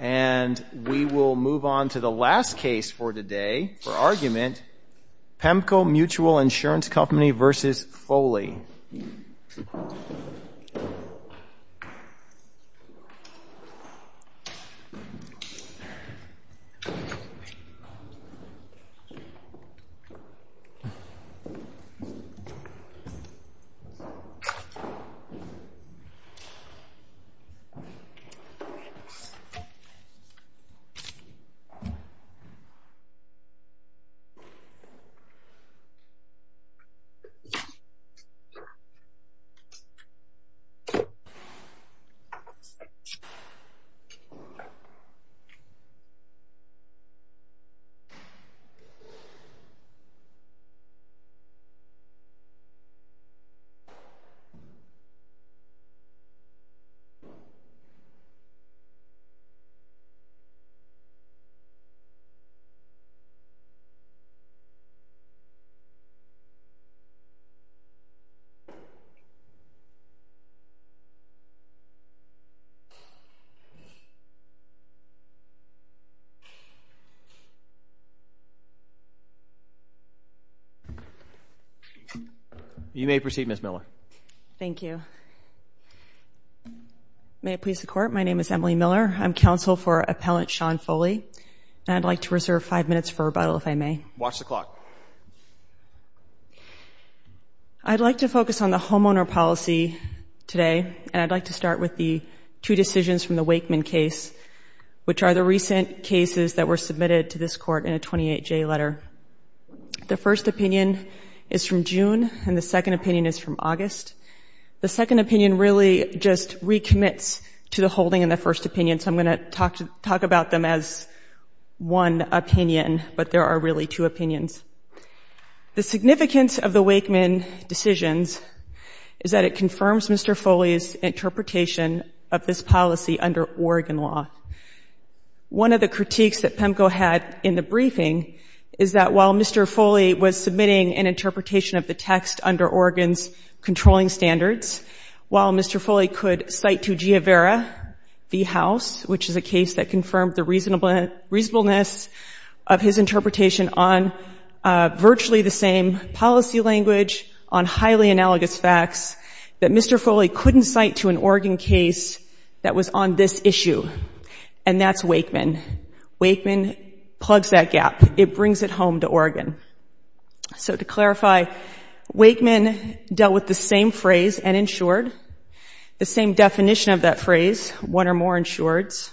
And we will move on to the last case for today for argument, Pemco Mutual Insurance Company v. Foley. And we will move on to the last case for today for argument, Pemco Mutual Insurance Company v. Foley. You may proceed, Ms. Miller. Thank you. May it please the Court, my name is Emily Miller. I'm counsel for Appellant Sean Foley. And I'd like to reserve five minutes for rebuttal, if I may. Watch the clock. I'd like to focus on the homeowner policy today. And I'd like to start with the two decisions from the Wakeman case, which are the recent cases that were submitted to this Court in a 28-J letter. The first opinion is from June, and the second opinion is from August. The second opinion really just recommits to the holding in the first opinion. So I'm going to talk about them as one opinion, but there are really two opinions. The significance of the Wakeman decisions is that it confirms Mr. Foley's interpretation of this policy under Oregon law. One of the critiques that Pemco had in the briefing is that while Mr. Foley was following standards, while Mr. Foley could cite to Giavera v. House, which is a case that confirmed the reasonableness of his interpretation on virtually the same policy language on highly analogous facts, that Mr. Foley couldn't cite to an Oregon case that was on this issue. And that's Wakeman. Wakeman plugs that gap. It brings it home to Oregon. So to clarify, Wakeman dealt with the same phrase, uninsured, the same definition of that phrase, one or more insureds,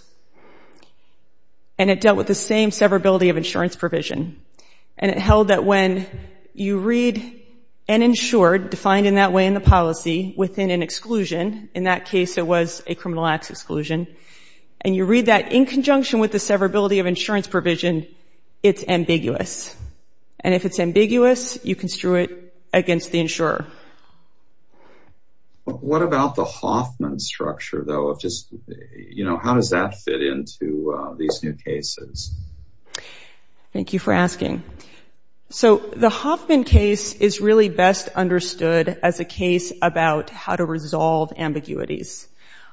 and it dealt with the same severability of insurance provision. And it held that when you read uninsured, defined in that way in the policy, within an exclusion, in that case it was a criminal acts exclusion, and you read that in conjunction with the severability of insurance provision, it's ambiguous. And if it's ambiguous, you construe it against the insurer. What about the Hoffman structure, though? How does that fit into these new cases? Thank you for asking. So the Hoffman case is really best understood as a case about how to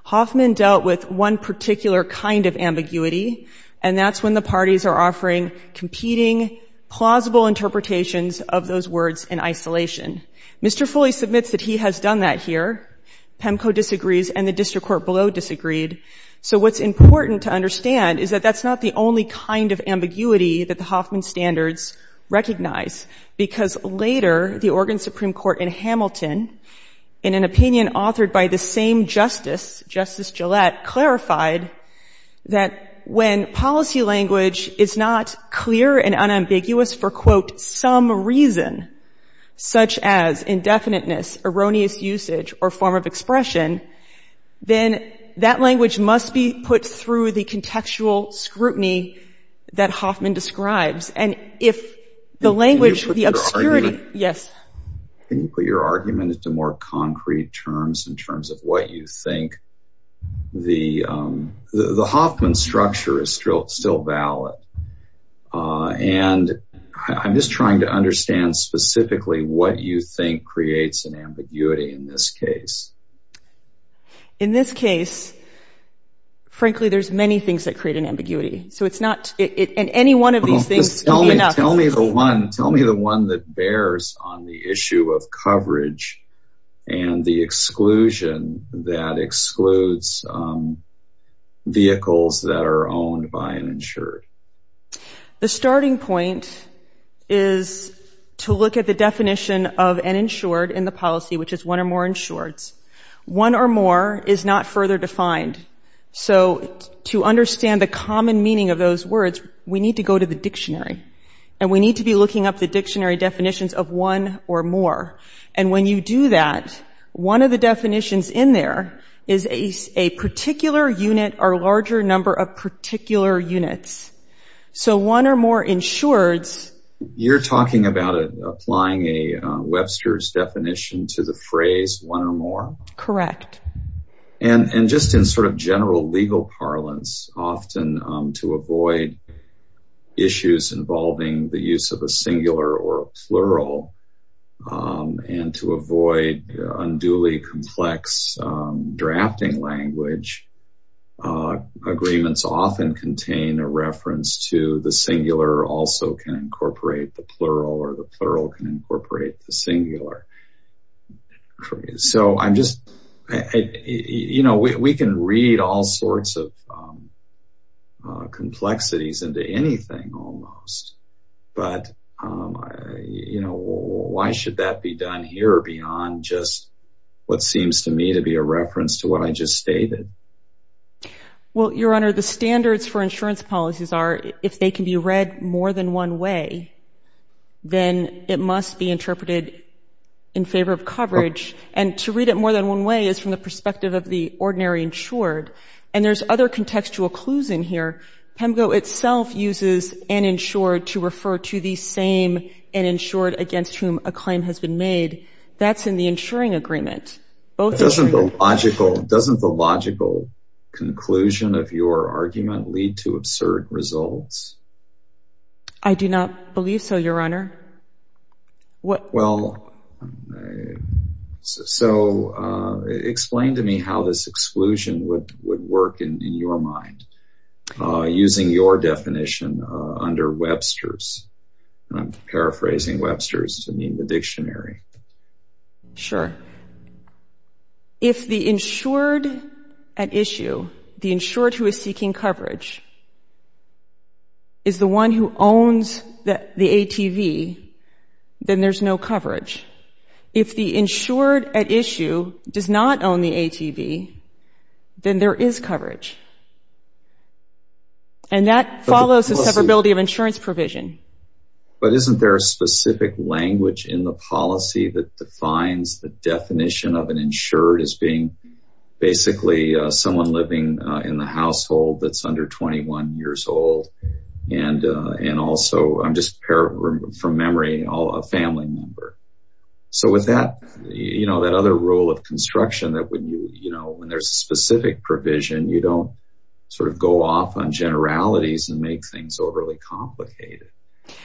Hoffman dealt with one particular kind of ambiguity, and that's when the parties are offering competing plausible interpretations of those words in isolation. Mr. Foley submits that he has done that here. PEMCO disagrees, and the district court below disagreed. So what's important to understand is that that's not the only kind of ambiguity that the Hoffman standards recognize, because later the Oregon Supreme Court in Hamilton, in an opinion authored by the same justice, Justice Gillette, clarified that when policy language is not clear and unambiguous for, quote, some reason such as indefiniteness, erroneous usage, or form of expression, then that language must be put through the contextual scrutiny that Hoffman describes. And if the language, the obscurity, yes. Can you put your argument into more concrete terms in terms of what you think the, the Hoffman structure is still, still valid. And I'm just trying to understand specifically what you think creates an ambiguity in this case. In this case, frankly, there's many things that create an ambiguity. So it's not in any one of these things. Tell me the one, tell me the one that bears on the issue of coverage and the exclusion that excludes vehicles that are owned by an insured. The starting point is to look at the definition of an insured in the policy, which is one or more insureds. One or more is not further defined. So to understand the common meaning of those words, we need to go to the dictionary and we need to be looking up the dictionary definitions of one or more. And when you do that, one of the definitions in there is a particular unit or larger number of particular units. So one or more insureds. You're talking about applying a Webster's definition to the phrase one or more. Correct. And just in sort of general legal parlance, often to avoid issues involving the use of a singular or plural and to avoid unduly complex drafting language, agreements often contain a reference to the singular also can incorporate the plural or the plural can incorporate the singular. So I'm just, you know, we can read all sorts of complexities into anything almost, but you know, why should that be done here beyond just what seems to me to be a reference to what I just stated? Well, your Honor, the standards for insurance policies are if they can be read more than one way, then it must be interpreted in favor of coverage. And to read it more than one way is from the perspective of the ordinary insured. And there's other contextual clues in here. PEMGO itself uses uninsured to refer to the same uninsured against whom a claim has been made. That's in the insuring agreement. Doesn't the logical conclusion of your argument lead to absurd results? I do not believe so, your Honor. So explain to me how this exclusion would work in your mind. Using your definition under Webster's. I'm paraphrasing Webster's to mean the dictionary. Sure. If the insured at issue, the insured who is seeking coverage, is the one who owns the ATV, then there's no coverage. If the insured at issue does not own the ATV, then there is coverage. And that follows the severability of insurance provision. But isn't there a specific language in the policy that defines the definition of an insured as being basically someone living in the household that's under 21 years old? And also, I'm just paraphrasing from memory, a family member. So with that, you know, that other rule of construction that when there's a specific provision, you don't sort of go off on generalities and make things overly complicated.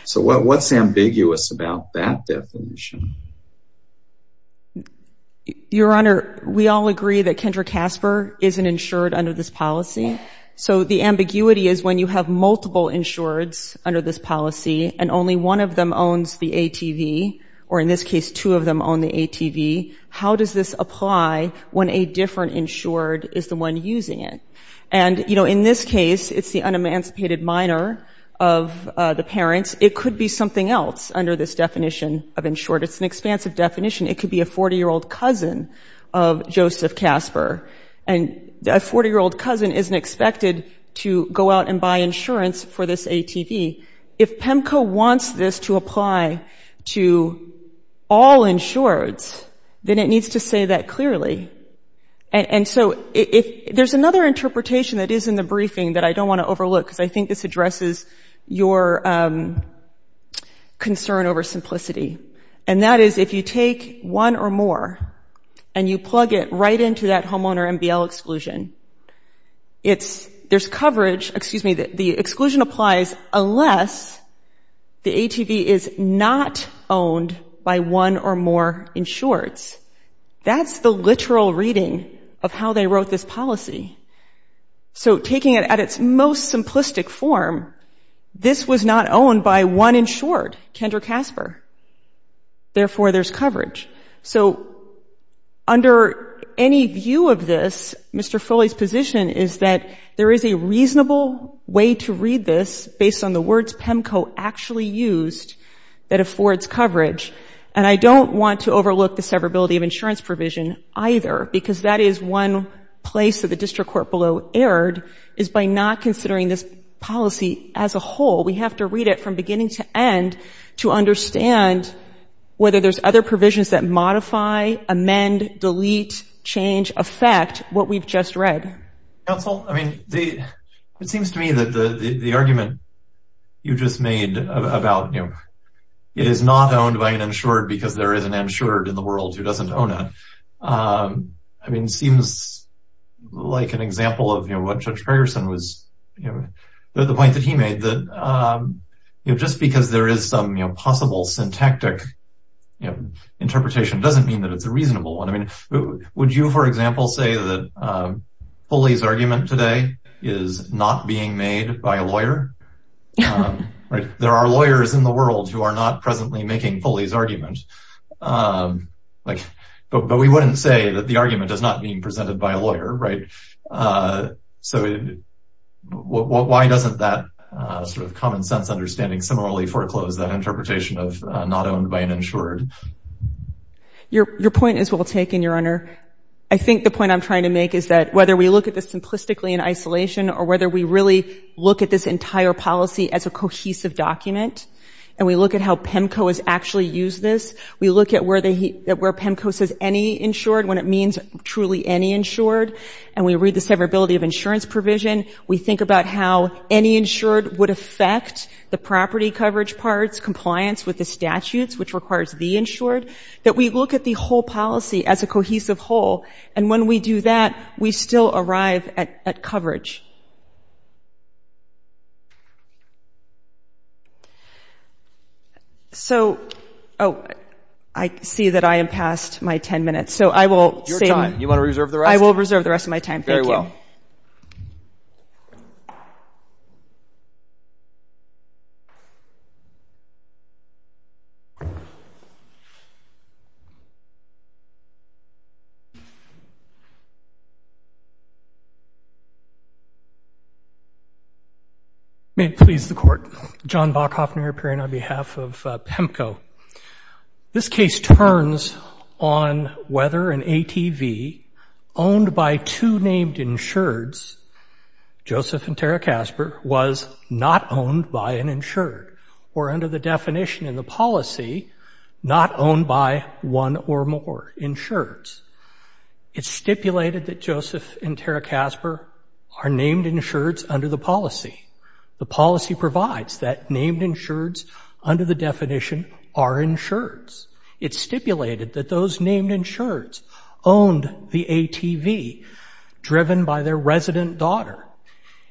So what's ambiguous about that definition? Your Honor, we all agree that Kendra Casper isn't insured under this policy. So the ambiguity is when you have multiple insureds under this policy and only one of them owns the ATV, or in this case, two of them own the ATV. How does this apply when a different insured is the one using it? And, you know, in this case, it's the unemancipated minor of the parents. It could be something else under this definition of insured. It's an expansive definition. It could be a 40-year-old cousin of Joseph Casper. And a 40-year-old cousin isn't expected to go out and buy insurance for this ATV. If PEMCO wants this to apply to all insureds, then it needs to say that clearly. And so there's another interpretation that is in the briefing that I don't want to overlook, because I think this addresses your concern over simplicity. And that is if you take one or more and you plug it right into that homeowner MBL exclusion, there's coverage. Excuse me. The exclusion applies unless the ATV is not owned by one or more insureds. That's the literal reading of how they wrote this policy. So taking it at its most simplistic form, this was not owned by one insured, Kendra Casper. Therefore, there's coverage. So under any view of this, Mr. Foley's position is that there is a reasonable way to read this based on the words PEMCO actually used that affords coverage. And I don't want to overlook the severability of insurance provision either, because that is one place that the district court below erred, is by not considering this policy as a whole. We have to read it from beginning to end to understand whether there's other provisions that modify, amend, delete, change, affect what we've just read. Counsel, I mean, it seems to me that the argument you just made about, you know, it is not owned by an insured because there is an insured in the world who doesn't own it. I mean, it seems like an example of what Judge Ferguson was, the point that he made that, you know, just because there is some possible syntactic interpretation doesn't mean that it's a reasonable one. I mean, would you, for example, say that Foley's argument today is not being made by a lawyer? There are lawyers in the world who are not presently making Foley's argument. But we wouldn't say that the argument is not being presented by a lawyer. So why doesn't that sort of common sense understanding similarly foreclose that interpretation of not owned by an insured? Your point is well taken, Your Honor. I think the point I'm trying to make is that whether we look at this simplistically in isolation or whether we really look at this entire policy as a cohesive document and we look at how PEMCO has actually used this, we look at where PEMCO says any insured when it means truly any insured, and we read the severability of insurance provision, we think about how any insured would affect the property coverage parts, compliance with the statutes, which requires the insured, that we look at the whole policy as a cohesive whole. And when we do that, we still arrive at coverage. So, oh, I see that I am past my 10 minutes. So I will save... Your time. You want to reserve the rest? I will reserve the rest of my time. Thank you. Very well. May it please the Court. John Bokhoffner appearing on behalf of PEMCO. This case turns on whether an ATV owned by two named insureds, Joseph and Tara Casper, was not owned by an insured or under the definition in the policy not owned by one or more insureds. It's stipulated that Joseph and Tara Casper are named insureds under the policy. The policy provides that named insureds under the definition are insureds. It's stipulated that those named insureds owned the ATV driven by their resident daughter.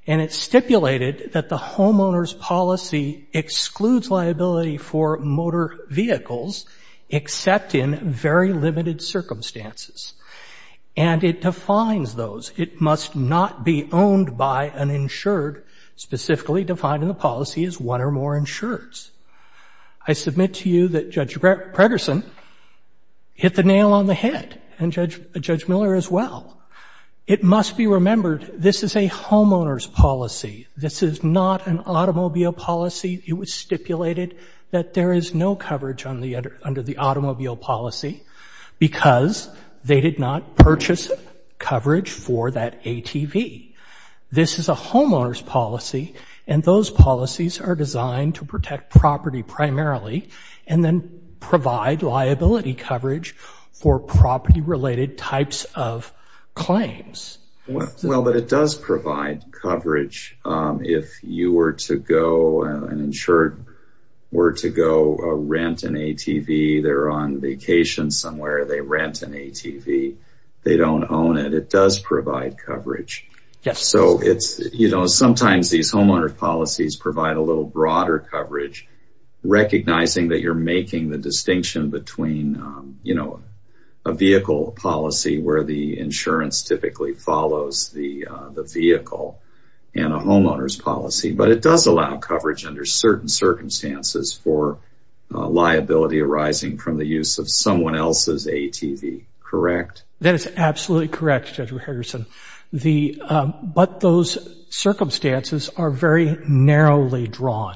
And it's stipulated that the homeowner's policy excludes liability for motor vehicles except in very limited circumstances. And it defines those. It must not be owned by an insured, specifically defined in the policy as one or more insureds. I submit to you that Judge Predersen hit the nail on the head, and Judge Miller as well. It must be remembered this is a homeowner's policy. This is not an automobile policy. It was stipulated that there is no coverage under the automobile policy because they did not purchase coverage for that ATV. This is a homeowner's policy, and those policies are designed to protect property primarily and then provide liability coverage for property related types of claims. Well, but it does provide coverage if you were to go, an insured were to go rent an ATV. They're on vacation somewhere. They rent an ATV. They don't own it. It does provide coverage. So it's, you know, sometimes these homeowner's policies provide a little broader coverage, recognizing that you're making the distinction between, you know, a vehicle policy where the it does allow coverage under certain circumstances for liability arising from the use of someone else's ATV, correct? That is absolutely correct, Judge Predersen. But those circumstances are very narrowly drawn,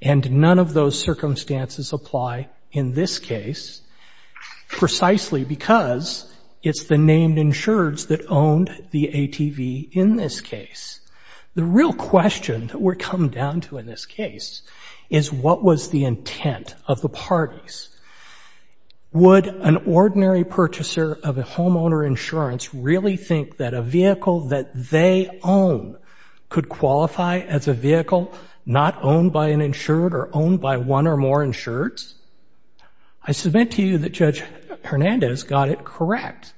and none of those circumstances apply in this case, precisely because it's the named insureds that we're coming down to in this case is what was the intent of the parties. Would an ordinary purchaser of a homeowner insurance really think that a vehicle that they own could qualify as a vehicle not owned by an insured or owned by one or more insureds? I submit to you that Judge Hernandez got it correct.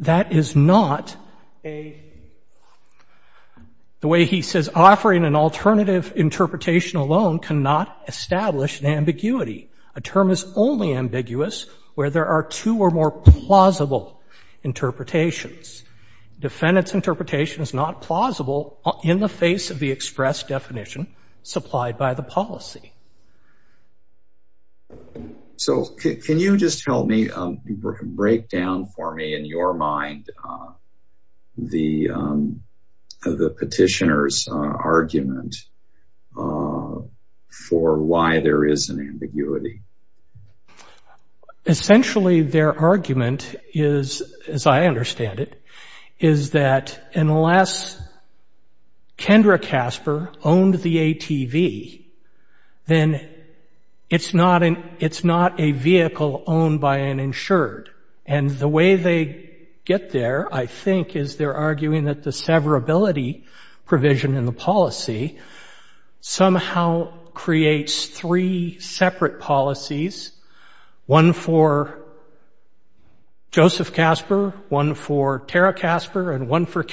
That is not a, the way he says, offering an alternative interpretation alone cannot establish an ambiguity. A term is only ambiguous where there are two or more plausible interpretations. Defendant's interpretation is not plausible in the face of the express definition supplied by the policy. So can you just tell me, break down for me in your mind, the petitioner's argument for why there is an ambiguity? Essentially, their argument is, as I understand it, is that unless Kendra Casper owned the ATV, then it's not a vehicle owned by an insured. And the way they get there, I think, is they're arguing that the severability provision in the policy somehow creates three separate policies, one for the insured and one for the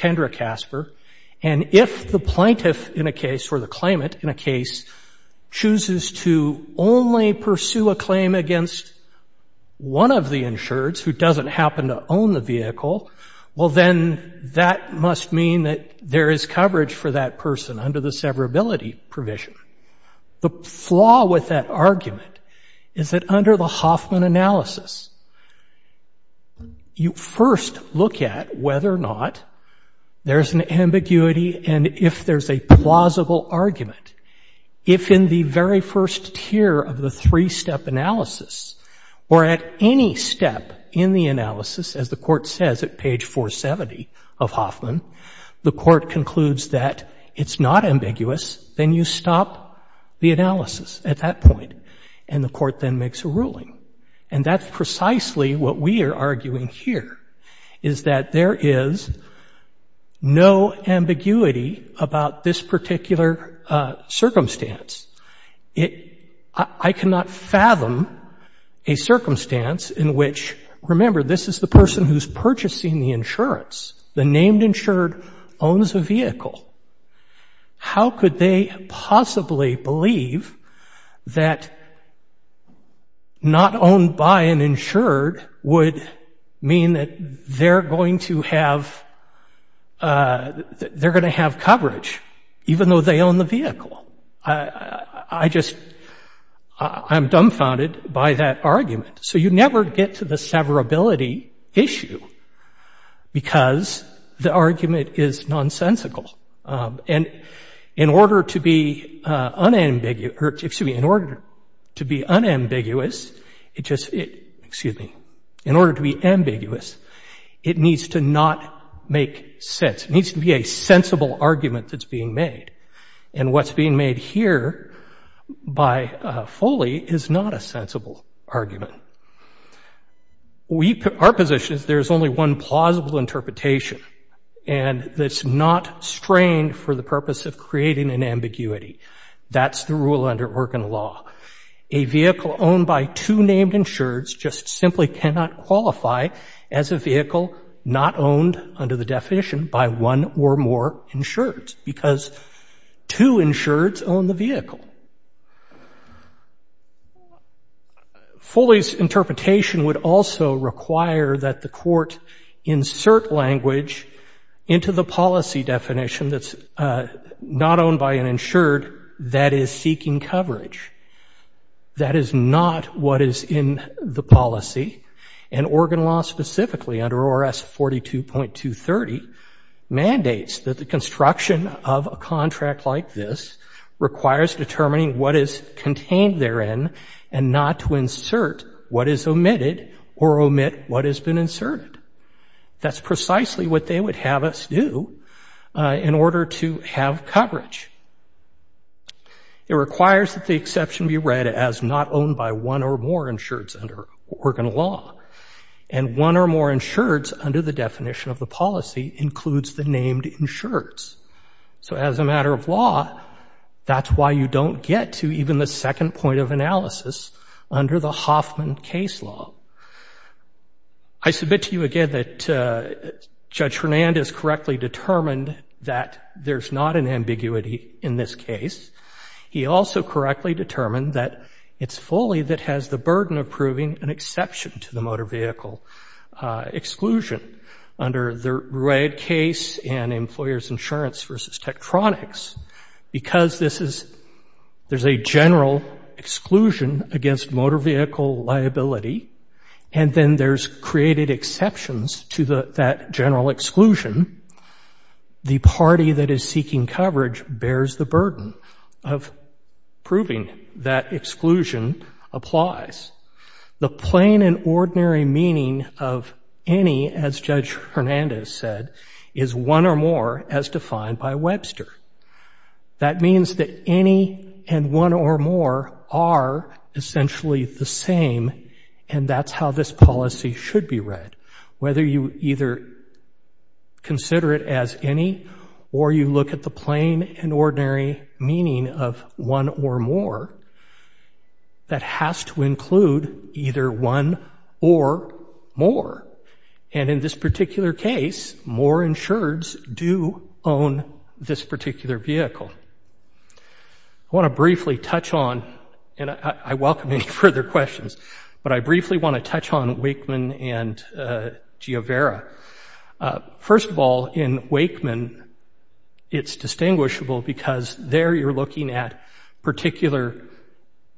insured. And if the plaintiff in a case or the claimant in a case chooses to only pursue a claim against one of the insureds who doesn't happen to own the vehicle, well, then that must mean that there is coverage for that person under the severability provision. The flaw with that argument is that under the Hoffman analysis, you first look at whether or not there's an ambiguity and if there's a plausible argument. If in the very first tier of the three-step analysis or at any step in the analysis, as the Court says at page 470 of Hoffman, the Court concludes that it's not ambiguous, then you stop the analysis at that point and the Court then makes a ruling. And that's precisely what we are arguing here, is that there is no ambiguity about this particular circumstance. I cannot fathom a circumstance in which, remember, this is the person who's purchasing the insurance. The named insured owns a vehicle. How could they possibly believe that not owned by an insured would mean that they're going to have coverage, even though they own the vehicle? I'm dumbfounded by that argument. So you never get to the severability issue because the argument is nonsensical. And in order to be unambiguous, it just, excuse me, in order to be ambiguous, it needs to not make sense. It needs to be a sensible argument that's being made. And what's being made here by Foley is not a sensible argument. Our position is there's only one plausible interpretation, and that's not strained for the purpose of creating an ambiguity. That's the rule under Oregon law. A vehicle owned by two named insureds just simply cannot qualify as a vehicle not owned under the definition by one or more insureds because two insureds own the vehicle. Foley's interpretation would also require that the court insert language into the policy definition that's not owned by an insured that is seeking coverage. That is not what is in the policy. And Oregon law specifically under ORS 42.230 mandates that the construction of a contract like this requires determining what is contained therein and not to insert what is omitted or omit what has been inserted. That's precisely what they would have us do in order to have coverage. It requires that the exception be read as not owned by one or more insureds under Oregon law. And one or more insureds under the definition of the policy includes the named insureds. So as a matter of law, that's why you don't get to even the second point of analysis under the Hoffman case law. I submit to you again that Judge Hernandez correctly determined that there's not an ambiguity in this case. He also correctly determined that it's Foley that has the burden of proving an exception to the motor vehicle exclusion under the red case and employers' insurance versus Tektronix because this is, there's a general exclusion against motor vehicle liability and then there's created exceptions to that general exclusion. The party that is seeking coverage bears the burden of proving that exclusion applies. The plain and ordinary meaning of any, as Judge Hernandez said, is one or more as defined by Webster. That means that any and one or more are essentially the same and that's how this policy should be read. Whether you either consider it as any or you look at the plain and ordinary meaning of one or more, that has to include either one or more. And in this particular case, more insureds do own this particular vehicle. I want to briefly touch on and I welcome any further questions, but I briefly want to touch on Wakeman and Giovera. First of all, in Wakeman it's distinguishable because there you're looking at particular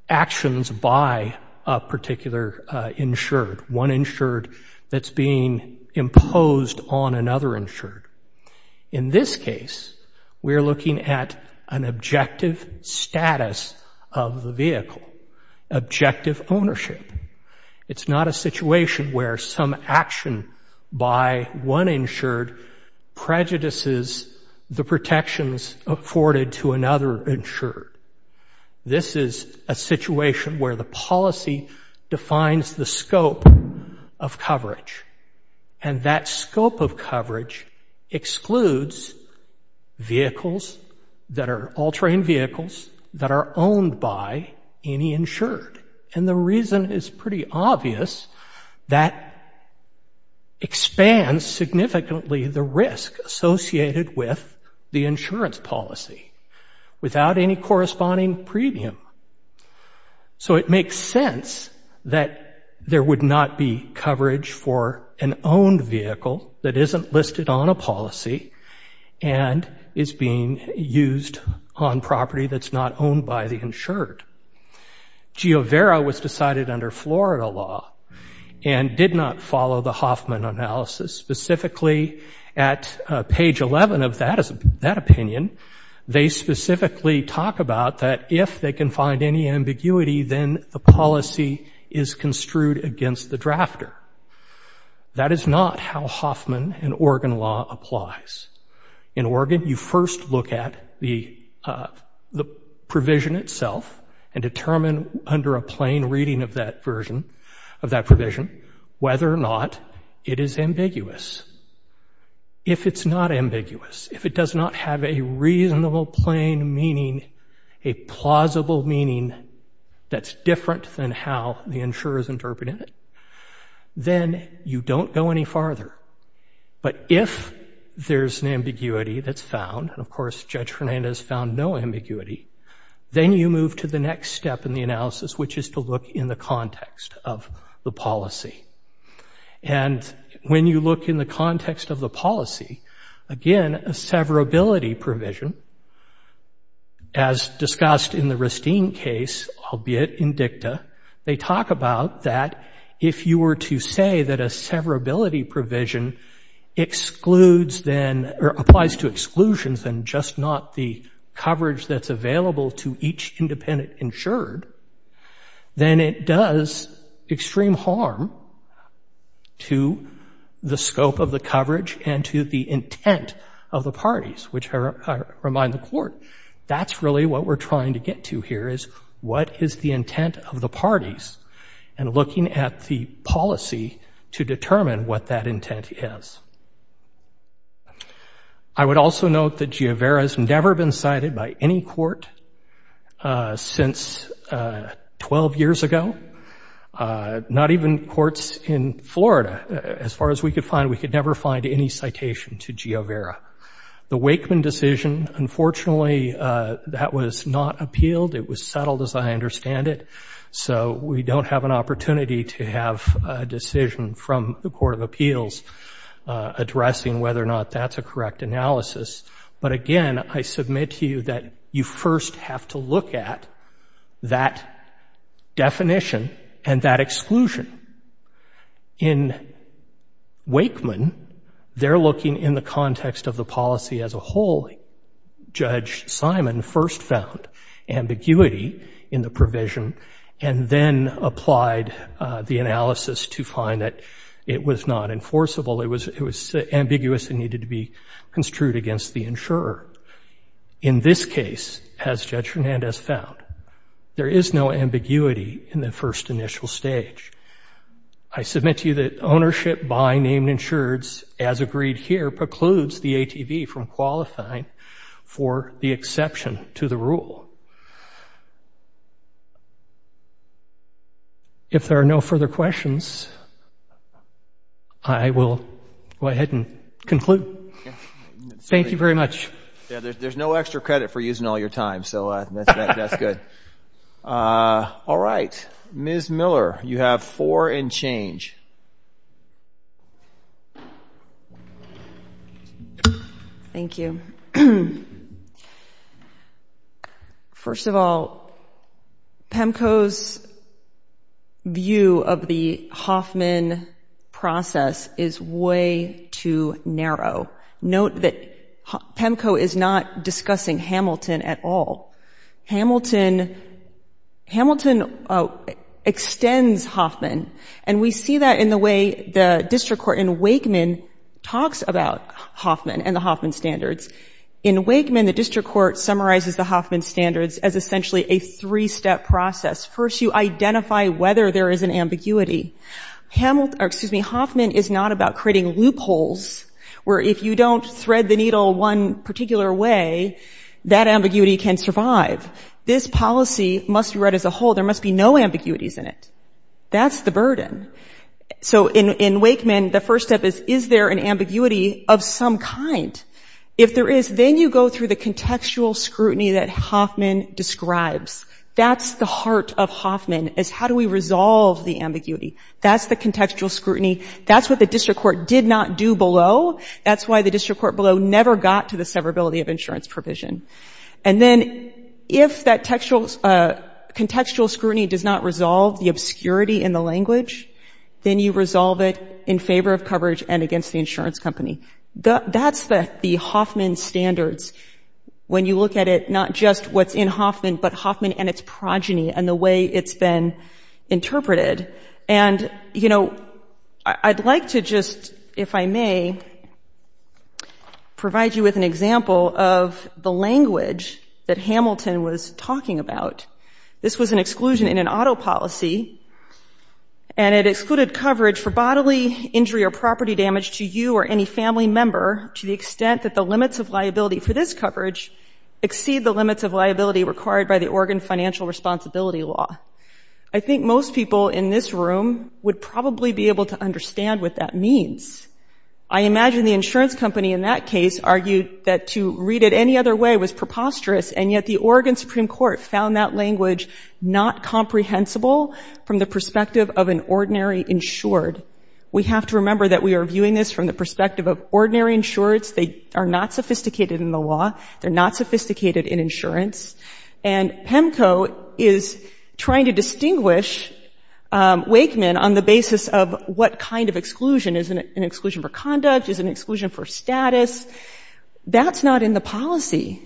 actions by a particular insured, one insured that's being imposed on another insured. In this case, we're looking at an objective status of the vehicle, objective ownership. It's not a situation where some action by one insured prejudices the protections afforded to another insured. This is a situation where the policy defines the scope of coverage. And that scope of coverage excludes vehicles that are all-terrain vehicles that are owned by any insured. And the reason is pretty obvious, that expands significantly the risk associated with the insurance policy without any corresponding premium. So it makes sense that there would not be coverage for an owned vehicle that isn't listed on a policy and is being used on property that's not owned by the insured. Giovera was decided under Florida law and did not follow the draft law. And in that opinion, they specifically talk about that if they can find any ambiguity, then the policy is construed against the drafter. That is not how Hoffman and Oregon law applies. In Oregon, you first look at the provision itself and determine under a plain reading of that version, of that provision, whether or not it is ambiguous. If it's not ambiguous, if it does not have a reasonable plain meaning, a plausible meaning that's different than how the insurer is interpreting it, then you don't go any farther. But if there's an ambiguity that's found, and of course Judge Fernandez found no further analysis, which is to look in the context of the policy. And when you look in the context of the policy, again, a severability provision, as discussed in the Ristine case, albeit in dicta, they talk about that if you were to say that a severability provision excludes then, or applies to exclusions and just not the coverage that's available to each independent insured, then it does extreme harm to the scope of the coverage and to the intent of the parties, which I remind the Court, that's really what we're trying to get to here, is what is the intent of the parties? And looking at the policy to determine what that intent is. I would also note that Giovera's never been cited by any court since 12 years ago, not even courts in Florida. As far as we could find, we could never find any citation to Giovera. The Wakeman decision, unfortunately, that was not appealed. It was settled, as I understand it. So we don't have an opportunity to have a decision from the Court of Appeals addressing whether or not that's a correct analysis. But again, I submit to you that you first have to look at that definition and that exclusion. In Wakeman, they're looking in the context of the policy as a whole. Judge Simon first found ambiguity in the provision and then applied the analysis to find that it was not enforceable. It was ambiguous and needed to be construed against the insurer. In this case, as Judge Hernandez found, there is no ambiguity in the first initial stage. I submit to you that ownership by named insureds, as agreed here, precludes the ATV from qualifying for the exception to the rule. If there are no further questions, I will go ahead and conclude. Thank you very much. There's no extra credit for using all your time, so that's good. All right. Ms. Miller, you have four and change. Thank you. First of all, PEMCO's view of the Hoffman process is way too narrow. Note that PEMCO is not discussing Hamilton at all. Hamilton extends Hoffman, and we see that in the way the district court in Wakeman talks about Hoffman and the Hoffman standards. In Wakeman, the district court summarizes the Hoffman standards as essentially a three-step process. First, you identify whether there is an ambiguity. Hoffman is not about creating loopholes where if you don't thread the needle one particular way, that ambiguity can survive. This policy must be read as a whole. There must be no ambiguities in it. That's the burden. So in Wakeman, the first step is, is there an ambiguity of some kind? If there is, then you go through the contextual scrutiny that Hoffman describes. That's the heart of Hoffman, is how do we resolve the ambiguity? That's the contextual scrutiny. That's what the district court did not do below. That's why the district court below never got to the severability of insurance provision. And then if that contextual scrutiny does not resolve the obscurity in the language, then you resolve it in favor of coverage and against the insurance company. That's the Hoffman standards. When you look at it, not just what's in Hoffman, but Hoffman and its progeny and the way it's been interpreted. I'd like to just, if I may, provide you with an example of the language that Hamilton was talking about. This was an exclusion in an auto policy, and it excluded coverage for bodily injury or property damage to you or any family member to the Oregon financial responsibility law. I think most people in this room would probably be able to understand what that means. I imagine the insurance company in that case argued that to read it any other way was preposterous, and yet the Oregon Supreme Court found that language not comprehensible from the perspective of an ordinary insured. We have to remember that we are viewing this from the perspective of ordinary insureds. They are not sophisticated in the law. They're not sophisticated in insurance. And PEMCO is trying to distinguish Wakeman on the basis of what kind of exclusion. Is it an exclusion for conduct? Is it an exclusion for status? That's not in the policy.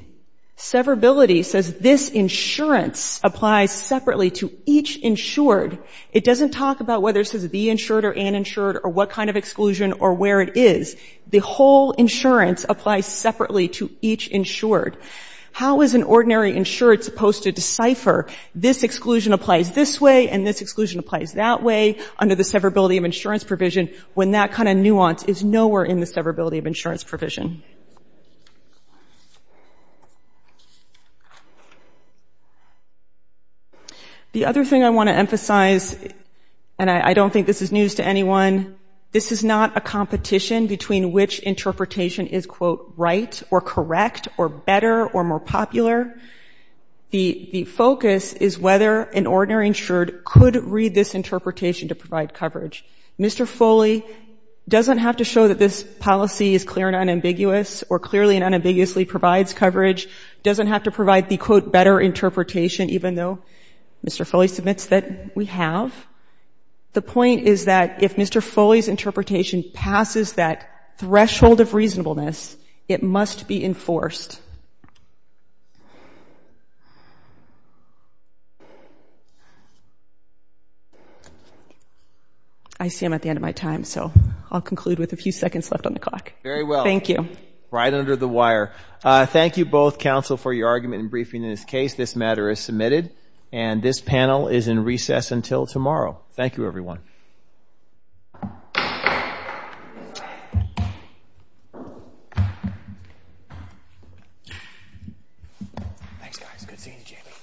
Severability says this insurance applies separately to each insured. It doesn't talk about whether it says the insured or uninsured or what kind of exclusion or where it is. The whole insurance applies separately to each insured. How is an ordinary insured supposed to decipher this exclusion applies this way and this exclusion applies that way under the severability of insurance provision when that kind of nuance is nowhere in the severability of insurance provision? The other thing I want to emphasize, and I don't think this is news to anyone, this is not a competition between which interpretation is, quote, right or correct or better or more popular. The focus is whether an ordinary insured could read this interpretation to provide coverage. Mr. Foley doesn't have to show that this policy is clear and ambiguous or clearly and unambiguously provides coverage, doesn't have to provide the, quote, better interpretation, even though Mr. Foley submits that we have. The point is that if Mr. Foley's interpretation passes that threshold of reasonableness, it must be enforced. I see I'm at the end of my time, so I'll conclude with a few seconds left on the clock. Very well. Thank you. Right under the wire. Thank you both, counsel, for your argument and briefing in this case. This matter is submitted and this panel is in recess until tomorrow. Thank you, everyone. Thanks, guys. Good seeing you.